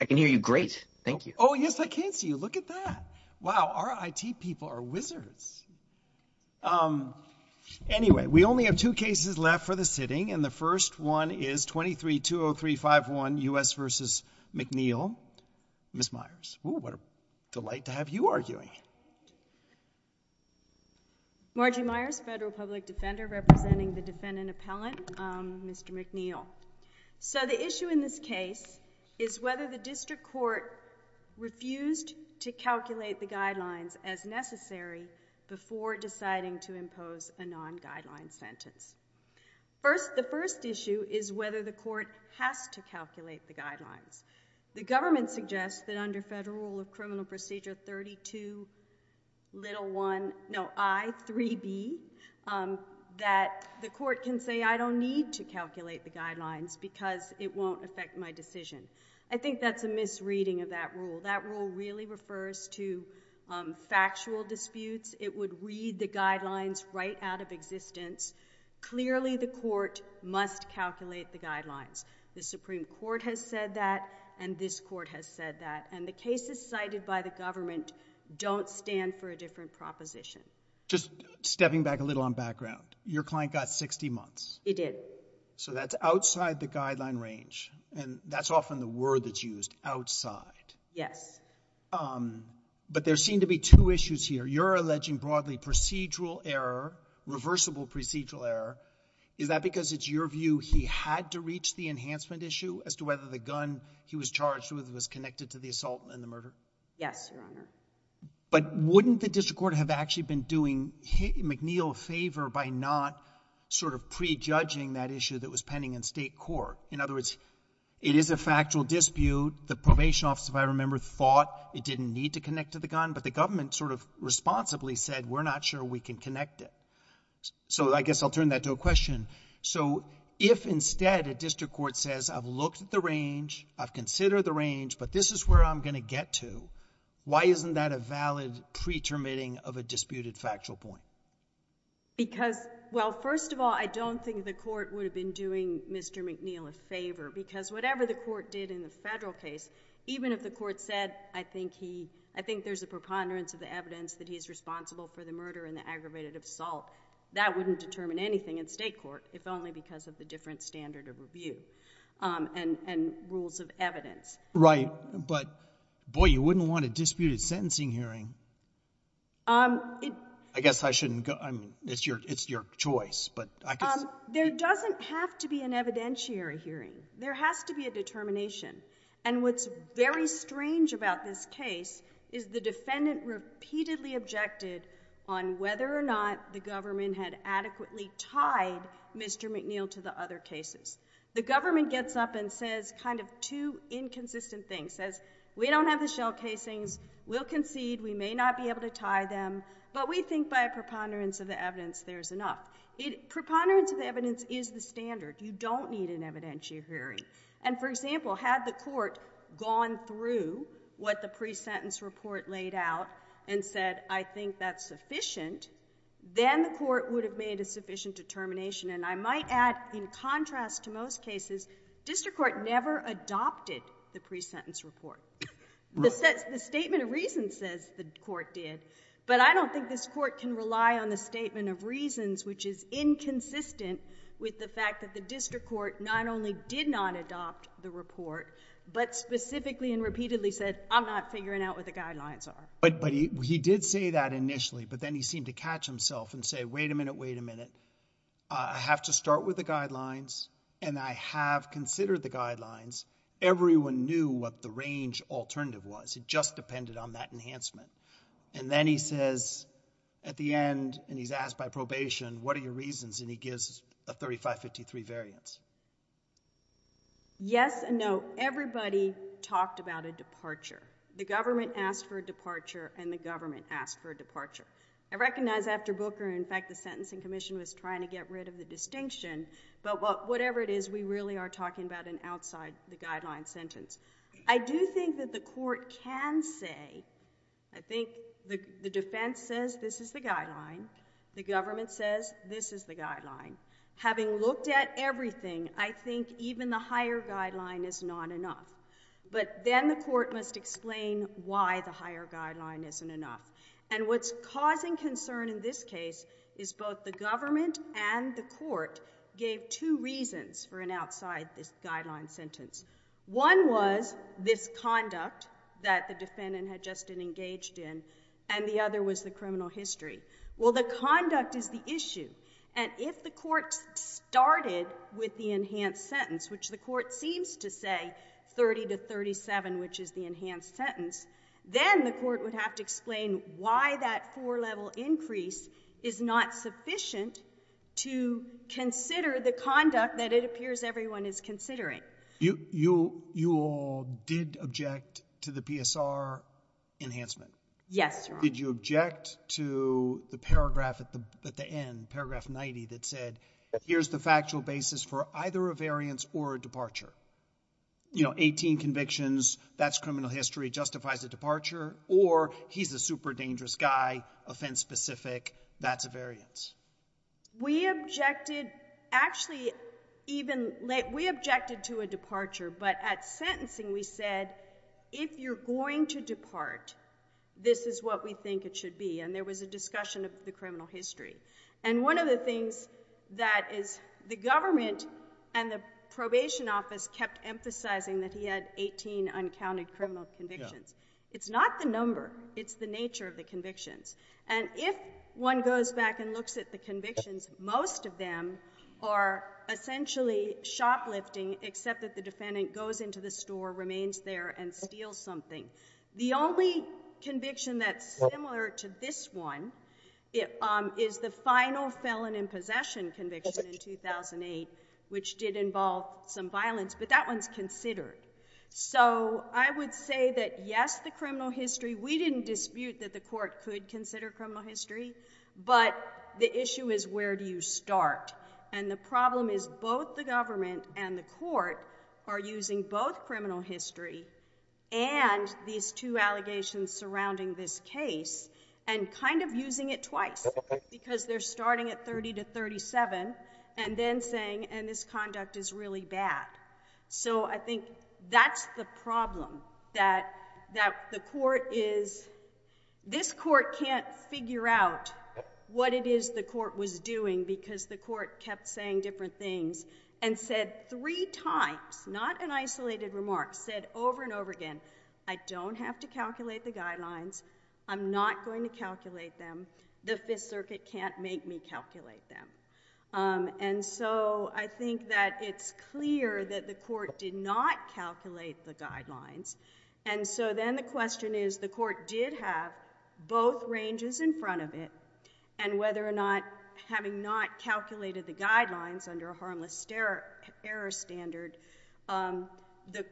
I can hear you great. Thank you. Oh, yes, I can't see you. Look at that. Wow, our IT people are wizards Anyway, we only have two cases left for the sitting and the first one is 23 203 5 1 u.s. Versus McNeill Miss Myers, what a delight to have you arguing Margie Myers federal public defender representing the defendant appellant. Mr. McNeill So the issue in this case is whether the district court Refused to calculate the guidelines as necessary before deciding to impose a non-guideline sentence First the first issue is whether the court has to calculate the guidelines The government suggests that under federal rule of criminal procedure 32 little one no I 3b That the court can say I don't need to calculate the guidelines because it won't affect my decision I think that's a misreading of that rule that rule really refers to Factual disputes it would read the guidelines right out of existence Clearly the court must calculate the guidelines The Supreme Court has said that and this court has said that and the cases cited by the government Don't stand for a different proposition Just stepping back a little on background your client got 60 months He did so that's outside the guideline range and that's often the word that's used outside. Yes But there seem to be two issues here. You're alleging broadly procedural error Reversible procedural error is that because it's your view He had to reach the enhancement issue as to whether the gun he was charged with was connected to the assault and the murder Yes But wouldn't the district court have actually been doing hit McNeil a favor by not Sort of prejudging that issue that was pending in state court in other words It is a factual dispute the probation officer I remember thought it didn't need to connect to the gun, but the government sort of responsibly said we're not sure we can connect it So I guess I'll turn that to a question So if instead a district court says I've looked at the range I've considered the range, but this is where I'm going to get to why isn't that a valid pretermitting of a disputed factual point? Because well first of all I don't think the court would have been doing mr. McNeil a favor because whatever the court did in the federal case even if the court said I think he I think there's a preponderance of the evidence that he's responsible for the murder and the aggravated assault That wouldn't determine anything in state court if only because of the different standard of review And and rules of evidence right, but boy you wouldn't want a disputed sentencing hearing Um I guess I shouldn't go. I mean it's your it's your choice, but I guess there doesn't have to be an evidentiary Hearing there has to be a determination and what's very strange about this case is the defendant Repeatedly objected on whether or not the government had adequately tied Mr.. McNeil to the other cases the government gets up and says kind of two Inconsistent things says we don't have the shell casings will concede we may not be able to tie them But we think by a preponderance of the evidence. There's enough it preponderance of the evidence is the standard You don't need an evidentiary and for example had the court gone through What the pre-sentence report laid out and said I think that's sufficient Then the court would have made a sufficient determination And I might add in contrast to most cases district court never adopted the pre-sentence report This is the statement of reason says the court did but I don't think this court can rely on the statement of reasons Which is inconsistent with the fact that the district court not only did not adopt the report But specifically and repeatedly said I'm not figuring out what the guidelines are but but he did say that initially But then he seemed to catch himself and say wait a minute wait a minute I have to start with the guidelines, and I have considered the guidelines Everyone knew what the range alternative was it just depended on that enhancement And then he says at the end and he's asked by probation. What are your reasons, and he gives a 3553 variance Yes, and no everybody talked about a departure the government asked for a departure and the government asked for a departure I recognize after Booker in fact the Sentencing Commission was trying to get rid of the distinction But what whatever it is we really are talking about an outside the guideline sentence I do think that the court can say I think the defense says this is the guideline The government says this is the guideline having looked at everything I think even the higher guideline is not enough But then the court must explain why the higher guideline isn't enough And what's causing concern in this case is both the government and the court Gave two reasons for an outside this guideline sentence One was this conduct that the defendant had just been engaged in and the other was the criminal history Well the conduct is the issue and if the court Started with the enhanced sentence which the court seems to say 30 to 37 which is the enhanced sentence then the court would have to explain why that four level increase is not sufficient to Consider the conduct that it appears everyone is considering you you you all did object to the PSR Enhancement. Yes, did you object to the paragraph at the end paragraph 90 that said Here's the factual basis for either a variance or a departure You know 18 convictions. That's criminal history justifies the departure or he's a super dangerous guy offense specific that's a variance We objected actually Even late we objected to a departure, but at sentencing we said if you're going to depart This is what we think it should be and there was a discussion of the criminal history and one of the things That is the government and the probation office kept emphasizing that he had 18 uncounted criminal convictions It's not the number it's the nature of the convictions and if one goes back and looks at the convictions most of them are Essentially shoplifting except that the defendant goes into the store remains there and steals something the only Conviction that's similar to this one. It is the final felon in possession conviction in 2008 which did involve some violence, but that one's considered So I would say that yes the criminal history We didn't dispute that the court could consider criminal history But the issue is where do you start and the problem is both the government and the court are? using both criminal history and These two allegations surrounding this case and kind of using it twice Because they're starting at 30 to 37 and then saying and this conduct is really bad So I think that's the problem that that the court is This court can't figure out What it is the court was doing because the court kept saying different things and said three times Not an isolated remark said over and over again. I don't have to calculate the guidelines I'm not going to calculate them the Fifth Circuit can't make me calculate them And so I think that it's clear that the court did not calculate the guidelines And so then the question is the court did have both ranges in front of it And whether or not having not calculated the guidelines under a harmless error error standard The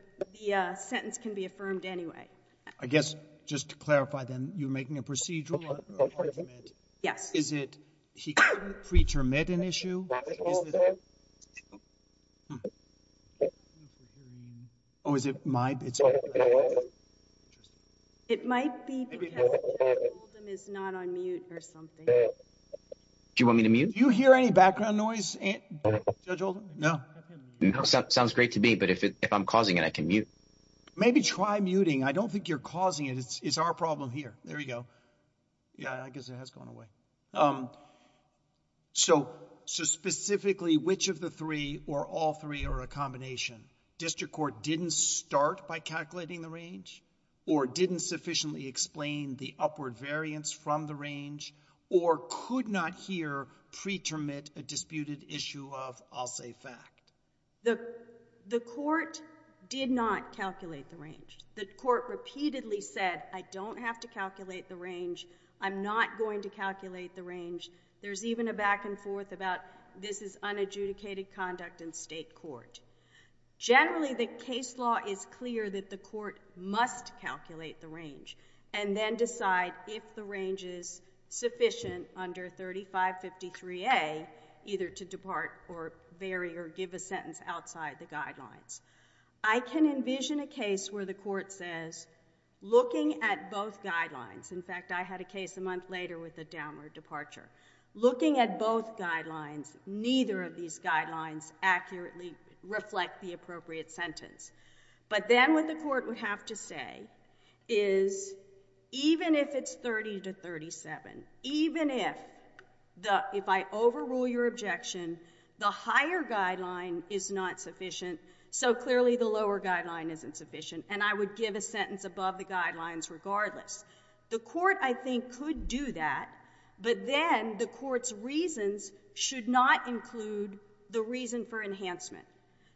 sentence can be affirmed. Anyway, I guess just to clarify then you're making a procedural Yes, is it? preacher met an issue Or is it my Do you want me to mute you hear any background noise? No Sounds great to me. But if I'm causing it, I can mute maybe try muting. I don't think you're causing it It's our problem here. There you go Yeah, I guess it has gone away So so specifically which of the three or all three or a combination District Court didn't start by calculating the range or didn't sufficiently explain the upward variance from the range or Could not hear preterm it a disputed issue of I'll say fact the the court Did not calculate the range the court repeatedly said I don't have to calculate the range I'm not going to calculate the range. There's even a back-and-forth about this is unadjudicated conduct in state court Generally, the case law is clear that the court must calculate the range and then decide if the range is sufficient under 3553 a either to depart or vary or give a sentence outside the guidelines I Can envision a case where the court says? Looking at both guidelines. In fact, I had a case a month later with the downward departure Looking at both guidelines. Neither of these guidelines accurately reflect the appropriate sentence, but then with the court would have to say is Even if it's 30 to 37 even if The if I overrule your objection the higher guideline is not sufficient So clearly the lower guideline isn't sufficient and I would give a sentence above the guidelines regardless the court I think could do that, but then the court's reasons should not include the reason for enhancement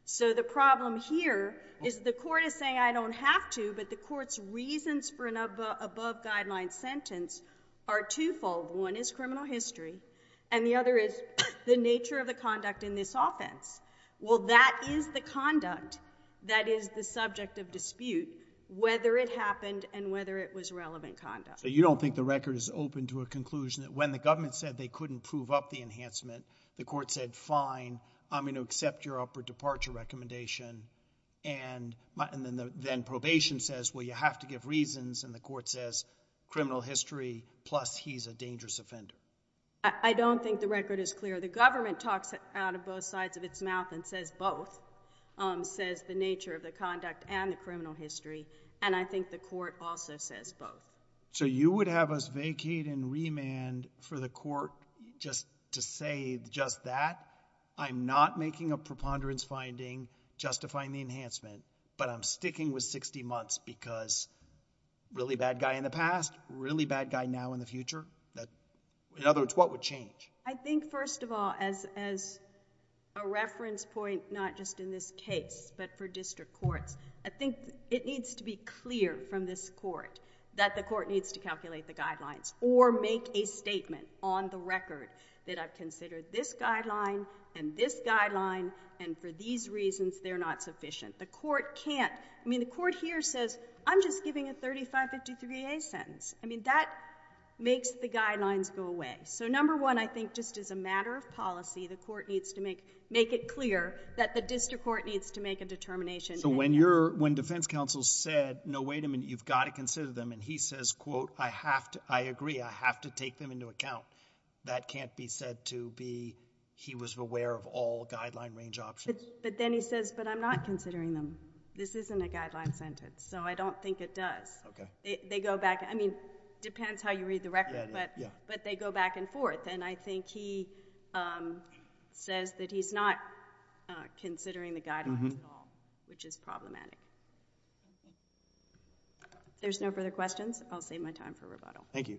So the problem here is the court is saying I don't have to but the court's reasons for an above guideline sentence are Twofold one is criminal history and the other is the nature of the conduct in this offense Well, that is the conduct that is the subject of dispute whether it happened and whether it was relevant conduct So you don't think the record is open to a conclusion that when the government said they couldn't prove up the enhancement the court said fine, I'm going to accept your upper departure recommendation and But and then the then probation says well you have to give reasons and the court says Criminal history plus he's a dangerous offender I don't think the record is clear the government talks out of both sides of its mouth and says both Says the nature of the conduct and the criminal history and I think the court also says both So you would have us vacate and remand for the court just to say just that I'm not making a preponderance finding justifying the enhancement, but I'm sticking with 60 months because Really bad guy in the past really bad guy now in the future that in other words. What would change? I think first of all as as a Reference point not just in this case, but for district courts I think it needs to be clear from this court that the court needs to calculate the guidelines or make a Statement on the record that I've considered this guideline and this guideline and for these reasons They're not sufficient the court can't I mean the court here says I'm just giving a 3553 a sentence. I mean that Makes the guidelines go away. So number one I think just as a matter of policy the court needs to make make it clear that the district court needs to make a When defense counsel said no, wait a minute You've got to consider them and he says quote I have to I agree I have to take them into account that can't be said to be he was aware of all guideline range options But then he says but I'm not considering them. This isn't a guideline sentence. So I don't think it does Okay, they go back. I mean depends how you read the record, but yeah, but they go back and forth and I think he Says that he's not Considering the guy which is problematic There's no further questions, I'll save my time for rebuttal. Thank you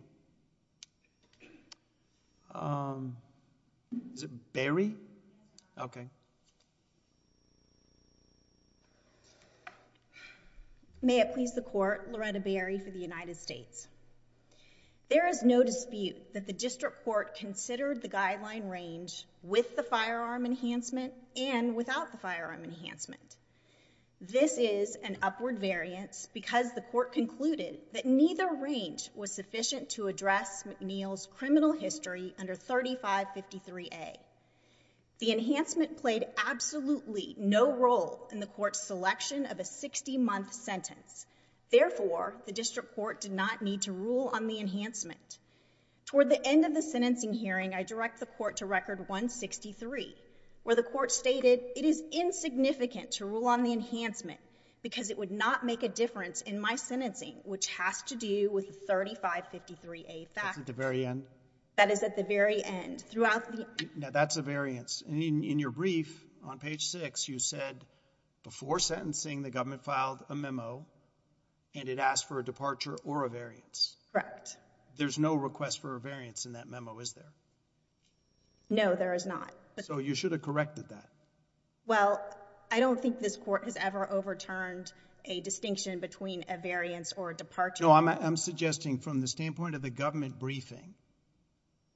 Barry okay May it please the court Loretta Barry for the United States There is no dispute that the district court considered the guideline range with the firearm enhancement and without the firearm enhancement This is an upward variance because the court concluded that neither range was sufficient to address McNeil's criminal history under 3553 a The enhancement played absolutely no role in the court's selection of a 60 month sentence Therefore the district court did not need to rule on the enhancement Toward the end of the sentencing hearing. I direct the court to record 163 where the court stated it is insignificant to rule on the enhancement because it would not make a difference in my sentencing which has to do with 3553 a back at the very end that is at the very end throughout That's a variance in your brief on page six. You said Before sentencing the government filed a memo and it asked for a departure or a variance, correct? There's no request for a variance in that memo. Is there? No, there is not so you should have corrected that Well, I don't think this court has ever overturned a distinction between a variance or a departure I'm suggesting from the standpoint of the government briefing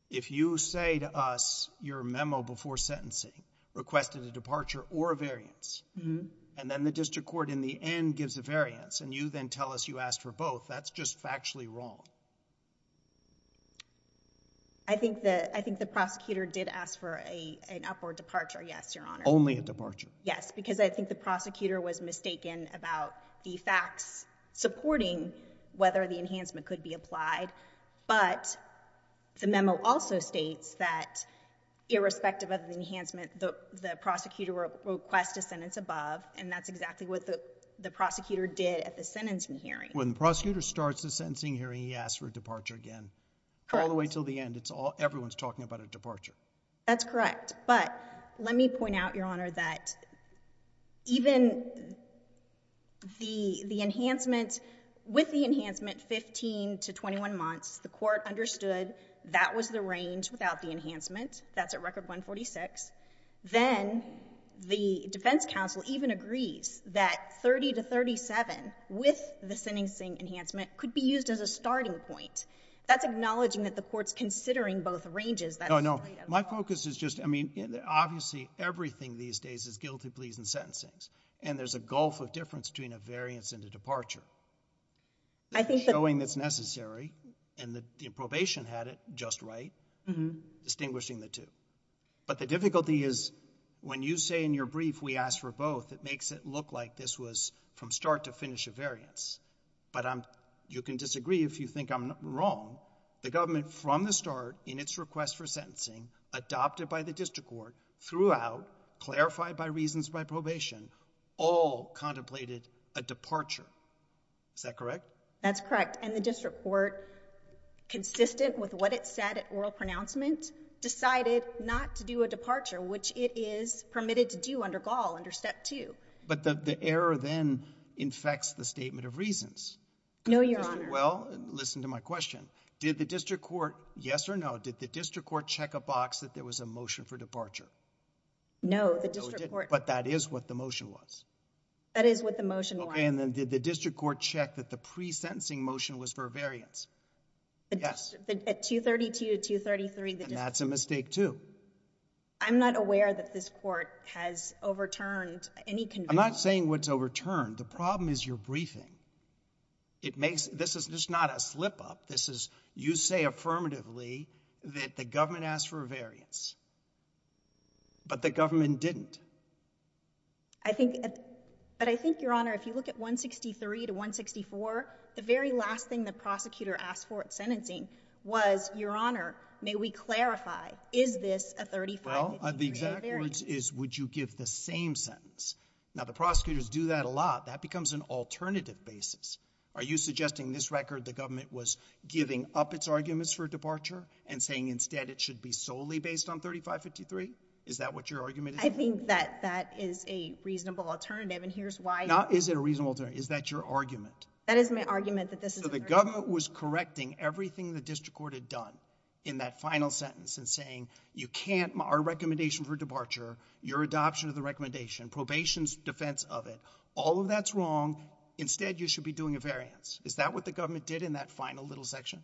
If you say to us your memo before sentencing Requested a departure or a variance Mm-hmm, and then the district court in the end gives a variance and you then tell us you asked for both That's just factually wrong. I Think that I think the prosecutor did ask for a an upward departure. Yes, your honor only a departure Yes, because I think the prosecutor was mistaken about the facts supporting whether the enhancement could be applied, but the memo also states that Irrespective of the enhancement the the prosecutor request a sentence above and that's exactly what the Prosecutor did at the sentencing hearing when the prosecutor starts the sentencing hearing. He asked for a departure again All the way till the end. It's all everyone's talking about a departure. That's correct. But let me point out your honor that even The the enhancement with the enhancement 15 to 21 months the court understood That was the range without the enhancement that's at record 146 then The Defense Council even agrees that 30 to 37 with the sentencing enhancement could be used as a starting point That's acknowledging that the courts considering both ranges that I know my focus is just I mean Obviously everything these days is guilty pleas and sentencings and there's a gulf of difference between a variance and a departure I think knowing that's necessary and the probation had it just right distinguishing the two But the difficulty is when you say in your brief we asked for both it makes it look like this was from start to finish a variance But I'm you can disagree if you think I'm wrong the government from the start in its request for sentencing adopted by the district court throughout clarified by reasons by probation all contemplated a departure Is that correct? That's correct. And the district court Consistent with what it said at oral pronouncement Decided not to do a departure which it is permitted to do under gall under step two But the error then infects the statement of reasons. No, you're on well listen to my question Did the district court yes or no did the district court check a box that there was a motion for departure? No, but that is what the motion was That is what the motion okay, and then did the district court check that the pre-sentencing motion was for a variance Yes at 232 233. That's a mistake, too I'm not aware that this court has overturned any I'm not saying what's overturned. The problem is your briefing It makes this is just not a slip-up. This is you say affirmatively that the government asked for a variance But the government didn't I? Think your honor if you look at 163 to 164 the very last thing the prosecutor asked for at sentencing was your honor May we clarify is this a 35? Is would you give the same sentence now the prosecutors do that a lot that becomes an alternative basis? Are you suggesting this record the government was giving up its arguments for departure and saying instead? It should be solely based on 3553. Is that what your argument? I think that that is a reasonable alternative, and here's why not is it a reasonable turn is that your argument? That is my argument that this is the government was correcting everything the district court had done in that final sentence and saying you can't Our recommendation for departure your adoption of the recommendation probation's defense of it all of that's wrong Instead you should be doing a variance. Is that what the government did in that final little section?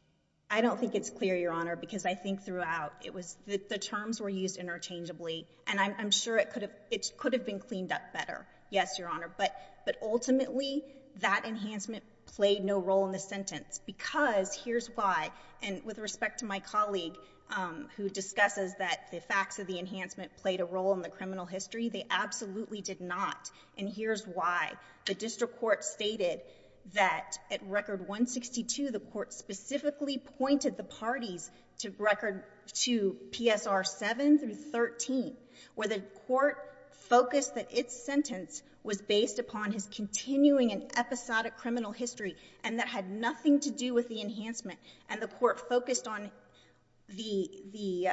I don't think it's clear your honor because I think throughout it was the terms were used interchangeably And I'm sure it could have it could have been cleaned up better Yes, your honor But but ultimately that enhancement played no role in the sentence because here's why and with respect to my colleague Who discusses that the facts of the enhancement played a role in the criminal history? They absolutely did not and here's why the district court stated that at record 162 the court specifically pointed the parties to record to PSR 7 through 13 where the court focused that its sentence was based upon his Continuing an episodic criminal history and that had nothing to do with the enhancement and the court focused on the the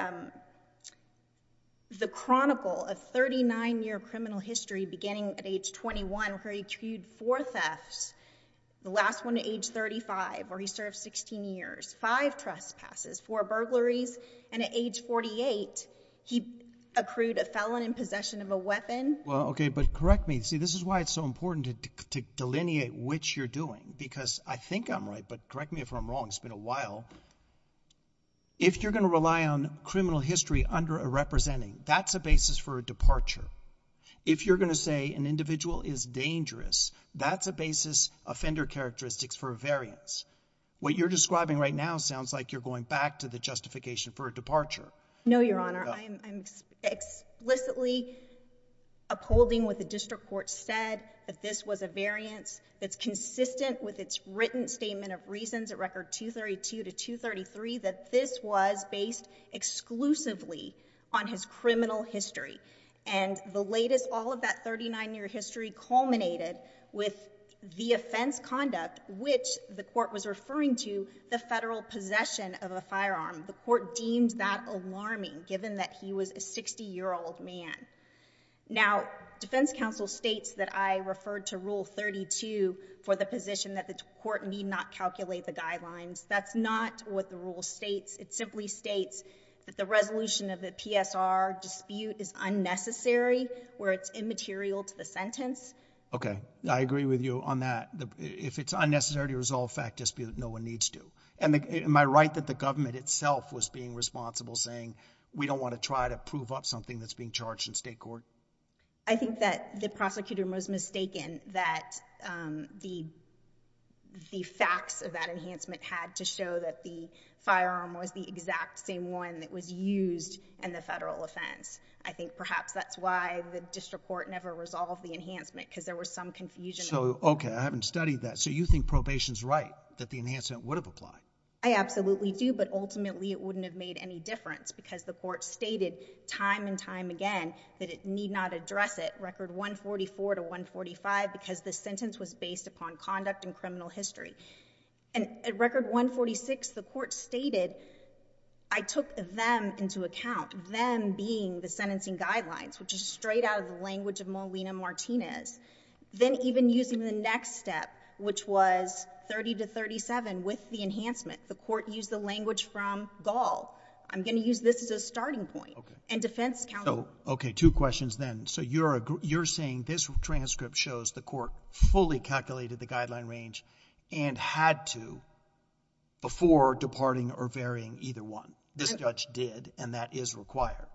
The chronicle of 39-year criminal history beginning at age 21 where he queued for thefts The last one at age 35 where he served 16 years five trespasses for burglaries and at age 48 He accrued a felon in possession of a weapon well, okay, but correct me See, this is why it's so important to delineate which you're doing because I think I'm right, but correct me if I'm wrong It's been a while if you're gonna rely on criminal history under a representing that's a basis for a departure if You're gonna say an individual is dangerous. That's a basis offender characteristics for a variance What you're describing right now sounds like you're going back to the justification for a departure No, your honor. I'm explicitly Upholding with the district court said that this was a variance that's consistent with its written statement of reasons at record 232 to 233 that this was based exclusively on his criminal history and the latest all of that 39-year history culminated with The offense conduct which the court was referring to the federal Possession of a firearm the court deems that alarming given that he was a 60 year old man Now Defense Council states that I referred to rule 32 for the position that the court need not calculate the guidelines That's not what the rule states. It simply states that the resolution of the PSR dispute is Unnecessary where it's immaterial to the sentence Okay I agree with you on that if it's unnecessary to resolve fact dispute No one needs to and am I right that the government itself was being responsible saying? We don't want to try to prove up something that's being charged in state court. I think that the prosecutor was mistaken that the the facts of that enhancement had to show that the Firearm was the exact same one that was used in the federal offense I think perhaps that's why the district court never resolved the enhancement because there was some confusion Oh, okay. I haven't studied that so you think probation's right that the enhancement would have applied I absolutely do but ultimately it wouldn't have made any difference because the court stated time and time again that it need not address it record 144 to 145 because the sentence was based upon conduct and criminal history and at record 146 the court stated I Sentencing guidelines, which is straight out of the language of Molina Martinez Then even using the next step which was 30 to 37 with the enhancement the court used the language from Gaul I'm gonna use this as a starting point and defense count. Oh, okay two questions then So you're a you're saying this transcript shows the court fully calculated the guideline range and had to Before departing or varying either one this judge did and that is required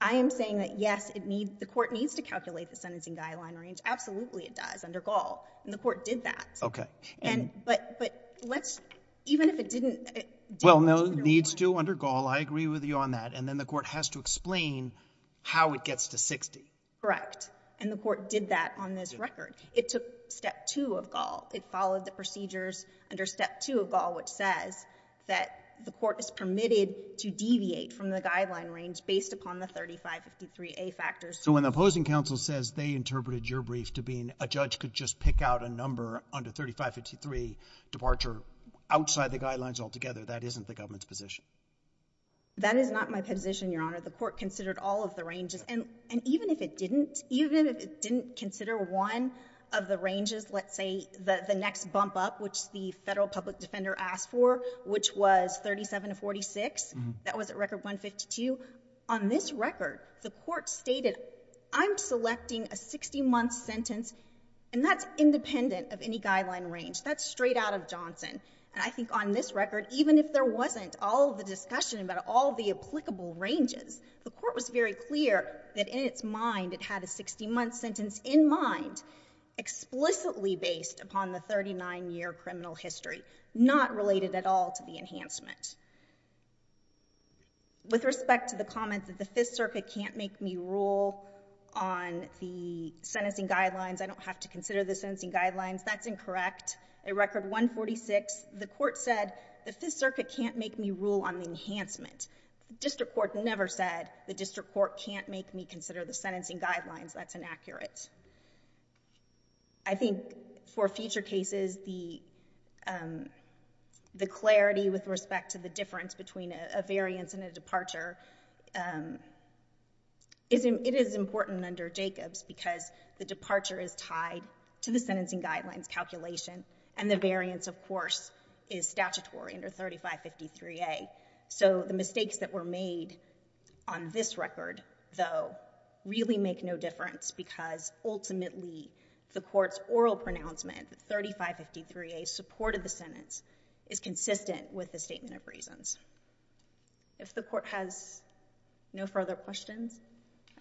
I am saying that yes, it needs the court needs to calculate the sentencing guideline range Absolutely, it does under Gaul and the court did that. Okay, and but but let's even if it didn't well No needs to under Gaul. I agree with you on that and then the court has to explain How it gets to 60 correct and the court did that on this record it took step two of Gaul It followed the procedures under step two of Gaul It says that the court is permitted to deviate from the guideline range based upon the 35 53 a factor So when the opposing counsel says they interpreted your brief to being a judge could just pick out a number under 35 53 Departure outside the guidelines altogether. That isn't the government's position That is not my position Your honor the court considered all of the ranges and and even if it didn't even if it didn't consider one of the ranges Let's say the the next bump up which the federal public defender asked for which was 37 to 46 That was a record 152 on this record. The court stated I'm selecting a 60 month sentence and that's independent of any guideline range that's straight out of Johnson And I think on this record even if there wasn't all the discussion about all the applicable ranges The court was very clear that in its mind. It had a 60 month sentence in mind Explicitly based upon the 39-year criminal history not related at all to the enhancement With respect to the comments that the Fifth Circuit can't make me rule on The sentencing guidelines. I don't have to consider the sentencing guidelines. That's incorrect a record 146 the court said the Fifth Circuit can't make me rule on the enhancement District Court never said the district court can't make me consider the sentencing guidelines. That's inaccurate I think for future cases the The clarity with respect to the difference between a variance and a departure Isn't it is important under Jacobs because the departure is tied to the sentencing guidelines Calculation and the variance of course is statutory under 3553 a so the mistakes that were made on this record though really make no difference because ultimately the court's oral pronouncement 3553 a supported the sentence is consistent with the statement of reasons if the court has No further questions.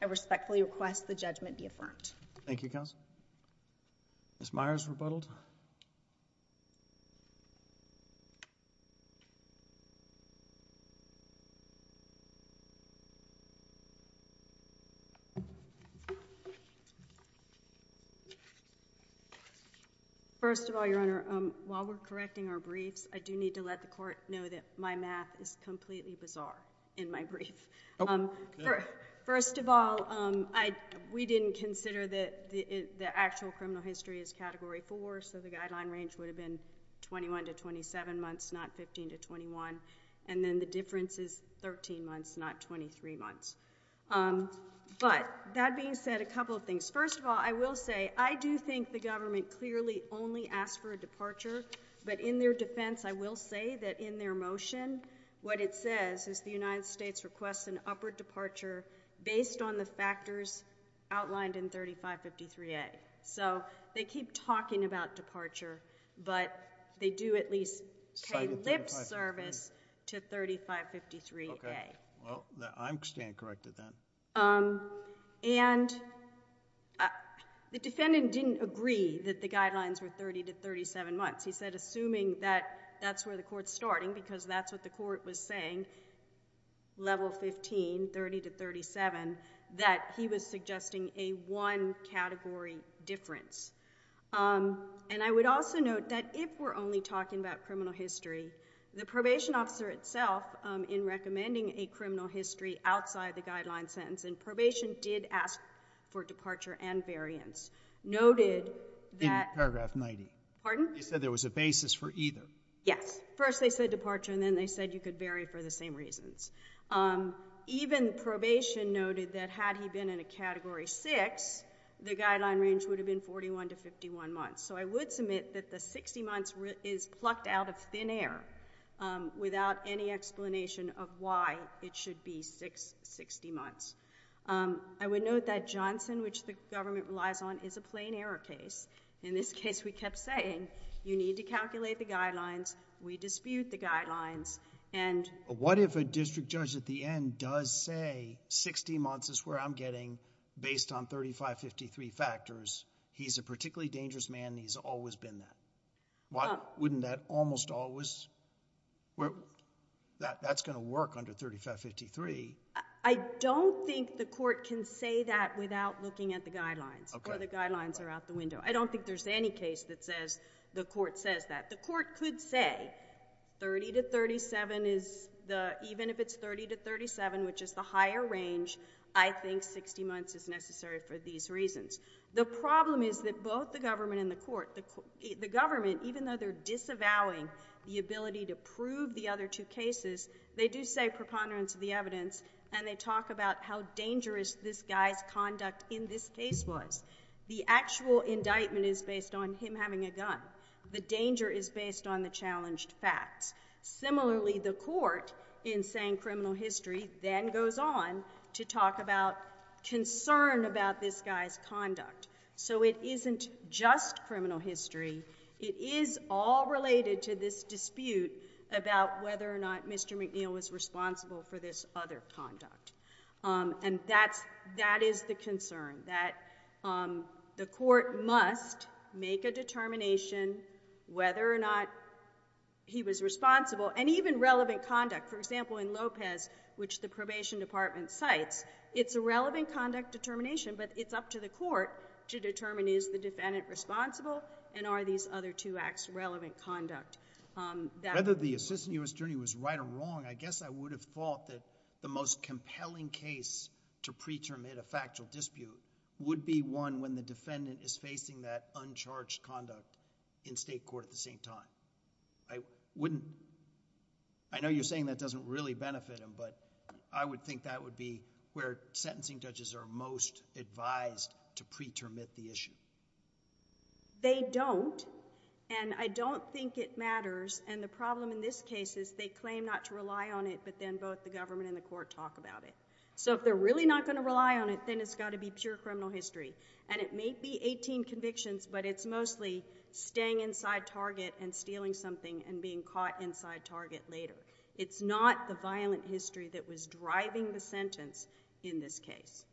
I respectfully request the judgment be affirmed. Thank you counsel Miss Myers rebuttaled First Of all your honor while we're correcting our briefs I do need to let the court know that my math is completely bizarre in my brief First of all, I we didn't consider that the actual criminal history is category four So the guideline range would have been 21 to 27 months not 15 to 21 And then the difference is 13 months not 23 months But that being said a couple of things first of all I will say I do think the government clearly only asked for a departure, but in their defense I will say that in their motion what it says is the United States requests an upward departure based on the factors outlined in 3553 a so they keep talking about departure, but they do at least Service to 3553. Okay. Well, I'm staying corrected then and The defendant didn't agree that the guidelines were 30 to 37 months He said assuming that that's where the court's starting because that's what the court was saying Level 15 30 to 37 that he was suggesting a one category difference And I would also note that if we're only talking about criminal history the probation officer itself In recommending a criminal history outside the guideline sentence and probation did ask for departure and variance Noted that paragraph 90. Pardon. He said there was a basis for either. Yes first They said departure and then they said you could bury for the same reasons Even probation noted that had he been in a category six The guideline range would have been 41 to 51 months. So I would submit that the 60 months is plucked out of thin air Without any explanation of why it should be six 60 months I would note that Johnson which the government relies on is a plain error case in this case We kept saying you need to calculate the guidelines. We dispute the guidelines and What if a district judge at the end does say 60 months is where I'm getting based on 35 53 factors He's a particularly dangerous man. He's always been that What wouldn't that almost always? well That that's gonna work under 35 53 I don't think the court can say that without looking at the guidelines or the guidelines are out the window I don't think there's any case that says the court says that the court could say 30 to 37 is the even if it's 30 to 37, which is the higher range I think 60 months is necessary for these reasons The problem is that both the government in the court the the government even though they're disavowing The ability to prove the other two cases They do say preponderance of the evidence and they talk about how dangerous this guy's conduct in this case was The actual indictment is based on him having a gun. The danger is based on the challenged facts Similarly the court in saying criminal history then goes on to talk about Concern about this guy's conduct. So it isn't just criminal history It is all related to this dispute about whether or not. Mr. McNeil was responsible for this other conduct and that's that is the concern that the court must make a determination whether or not He was responsible and even relevant conduct for example in Lopez which the probation department cites It's a relevant conduct determination But it's up to the court to determine is the defendant responsible and are these other two acts relevant conduct? Whether the assistant US attorney was right or wrong I guess I would have thought that the most compelling case to preterm it a factual dispute Would be one when the defendant is facing that uncharged conduct in state court at the same time. I wouldn't I Know you're saying that doesn't really benefit him But I would think that would be where sentencing judges are most advised to preterm it the issue They don't and I don't think it matters and the problem in this case is they claim not to rely on it But then both the government and the court talk about it So if they're really not going to rely on it, then it's got to be pure criminal history and it may be 18 convictions But it's mostly staying inside target and stealing something and being caught inside target later It's not the violent history that was driving the sentence in this case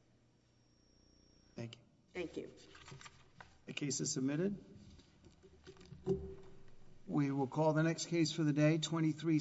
Thank you. Thank you The case is submitted We will call the next case for the day 23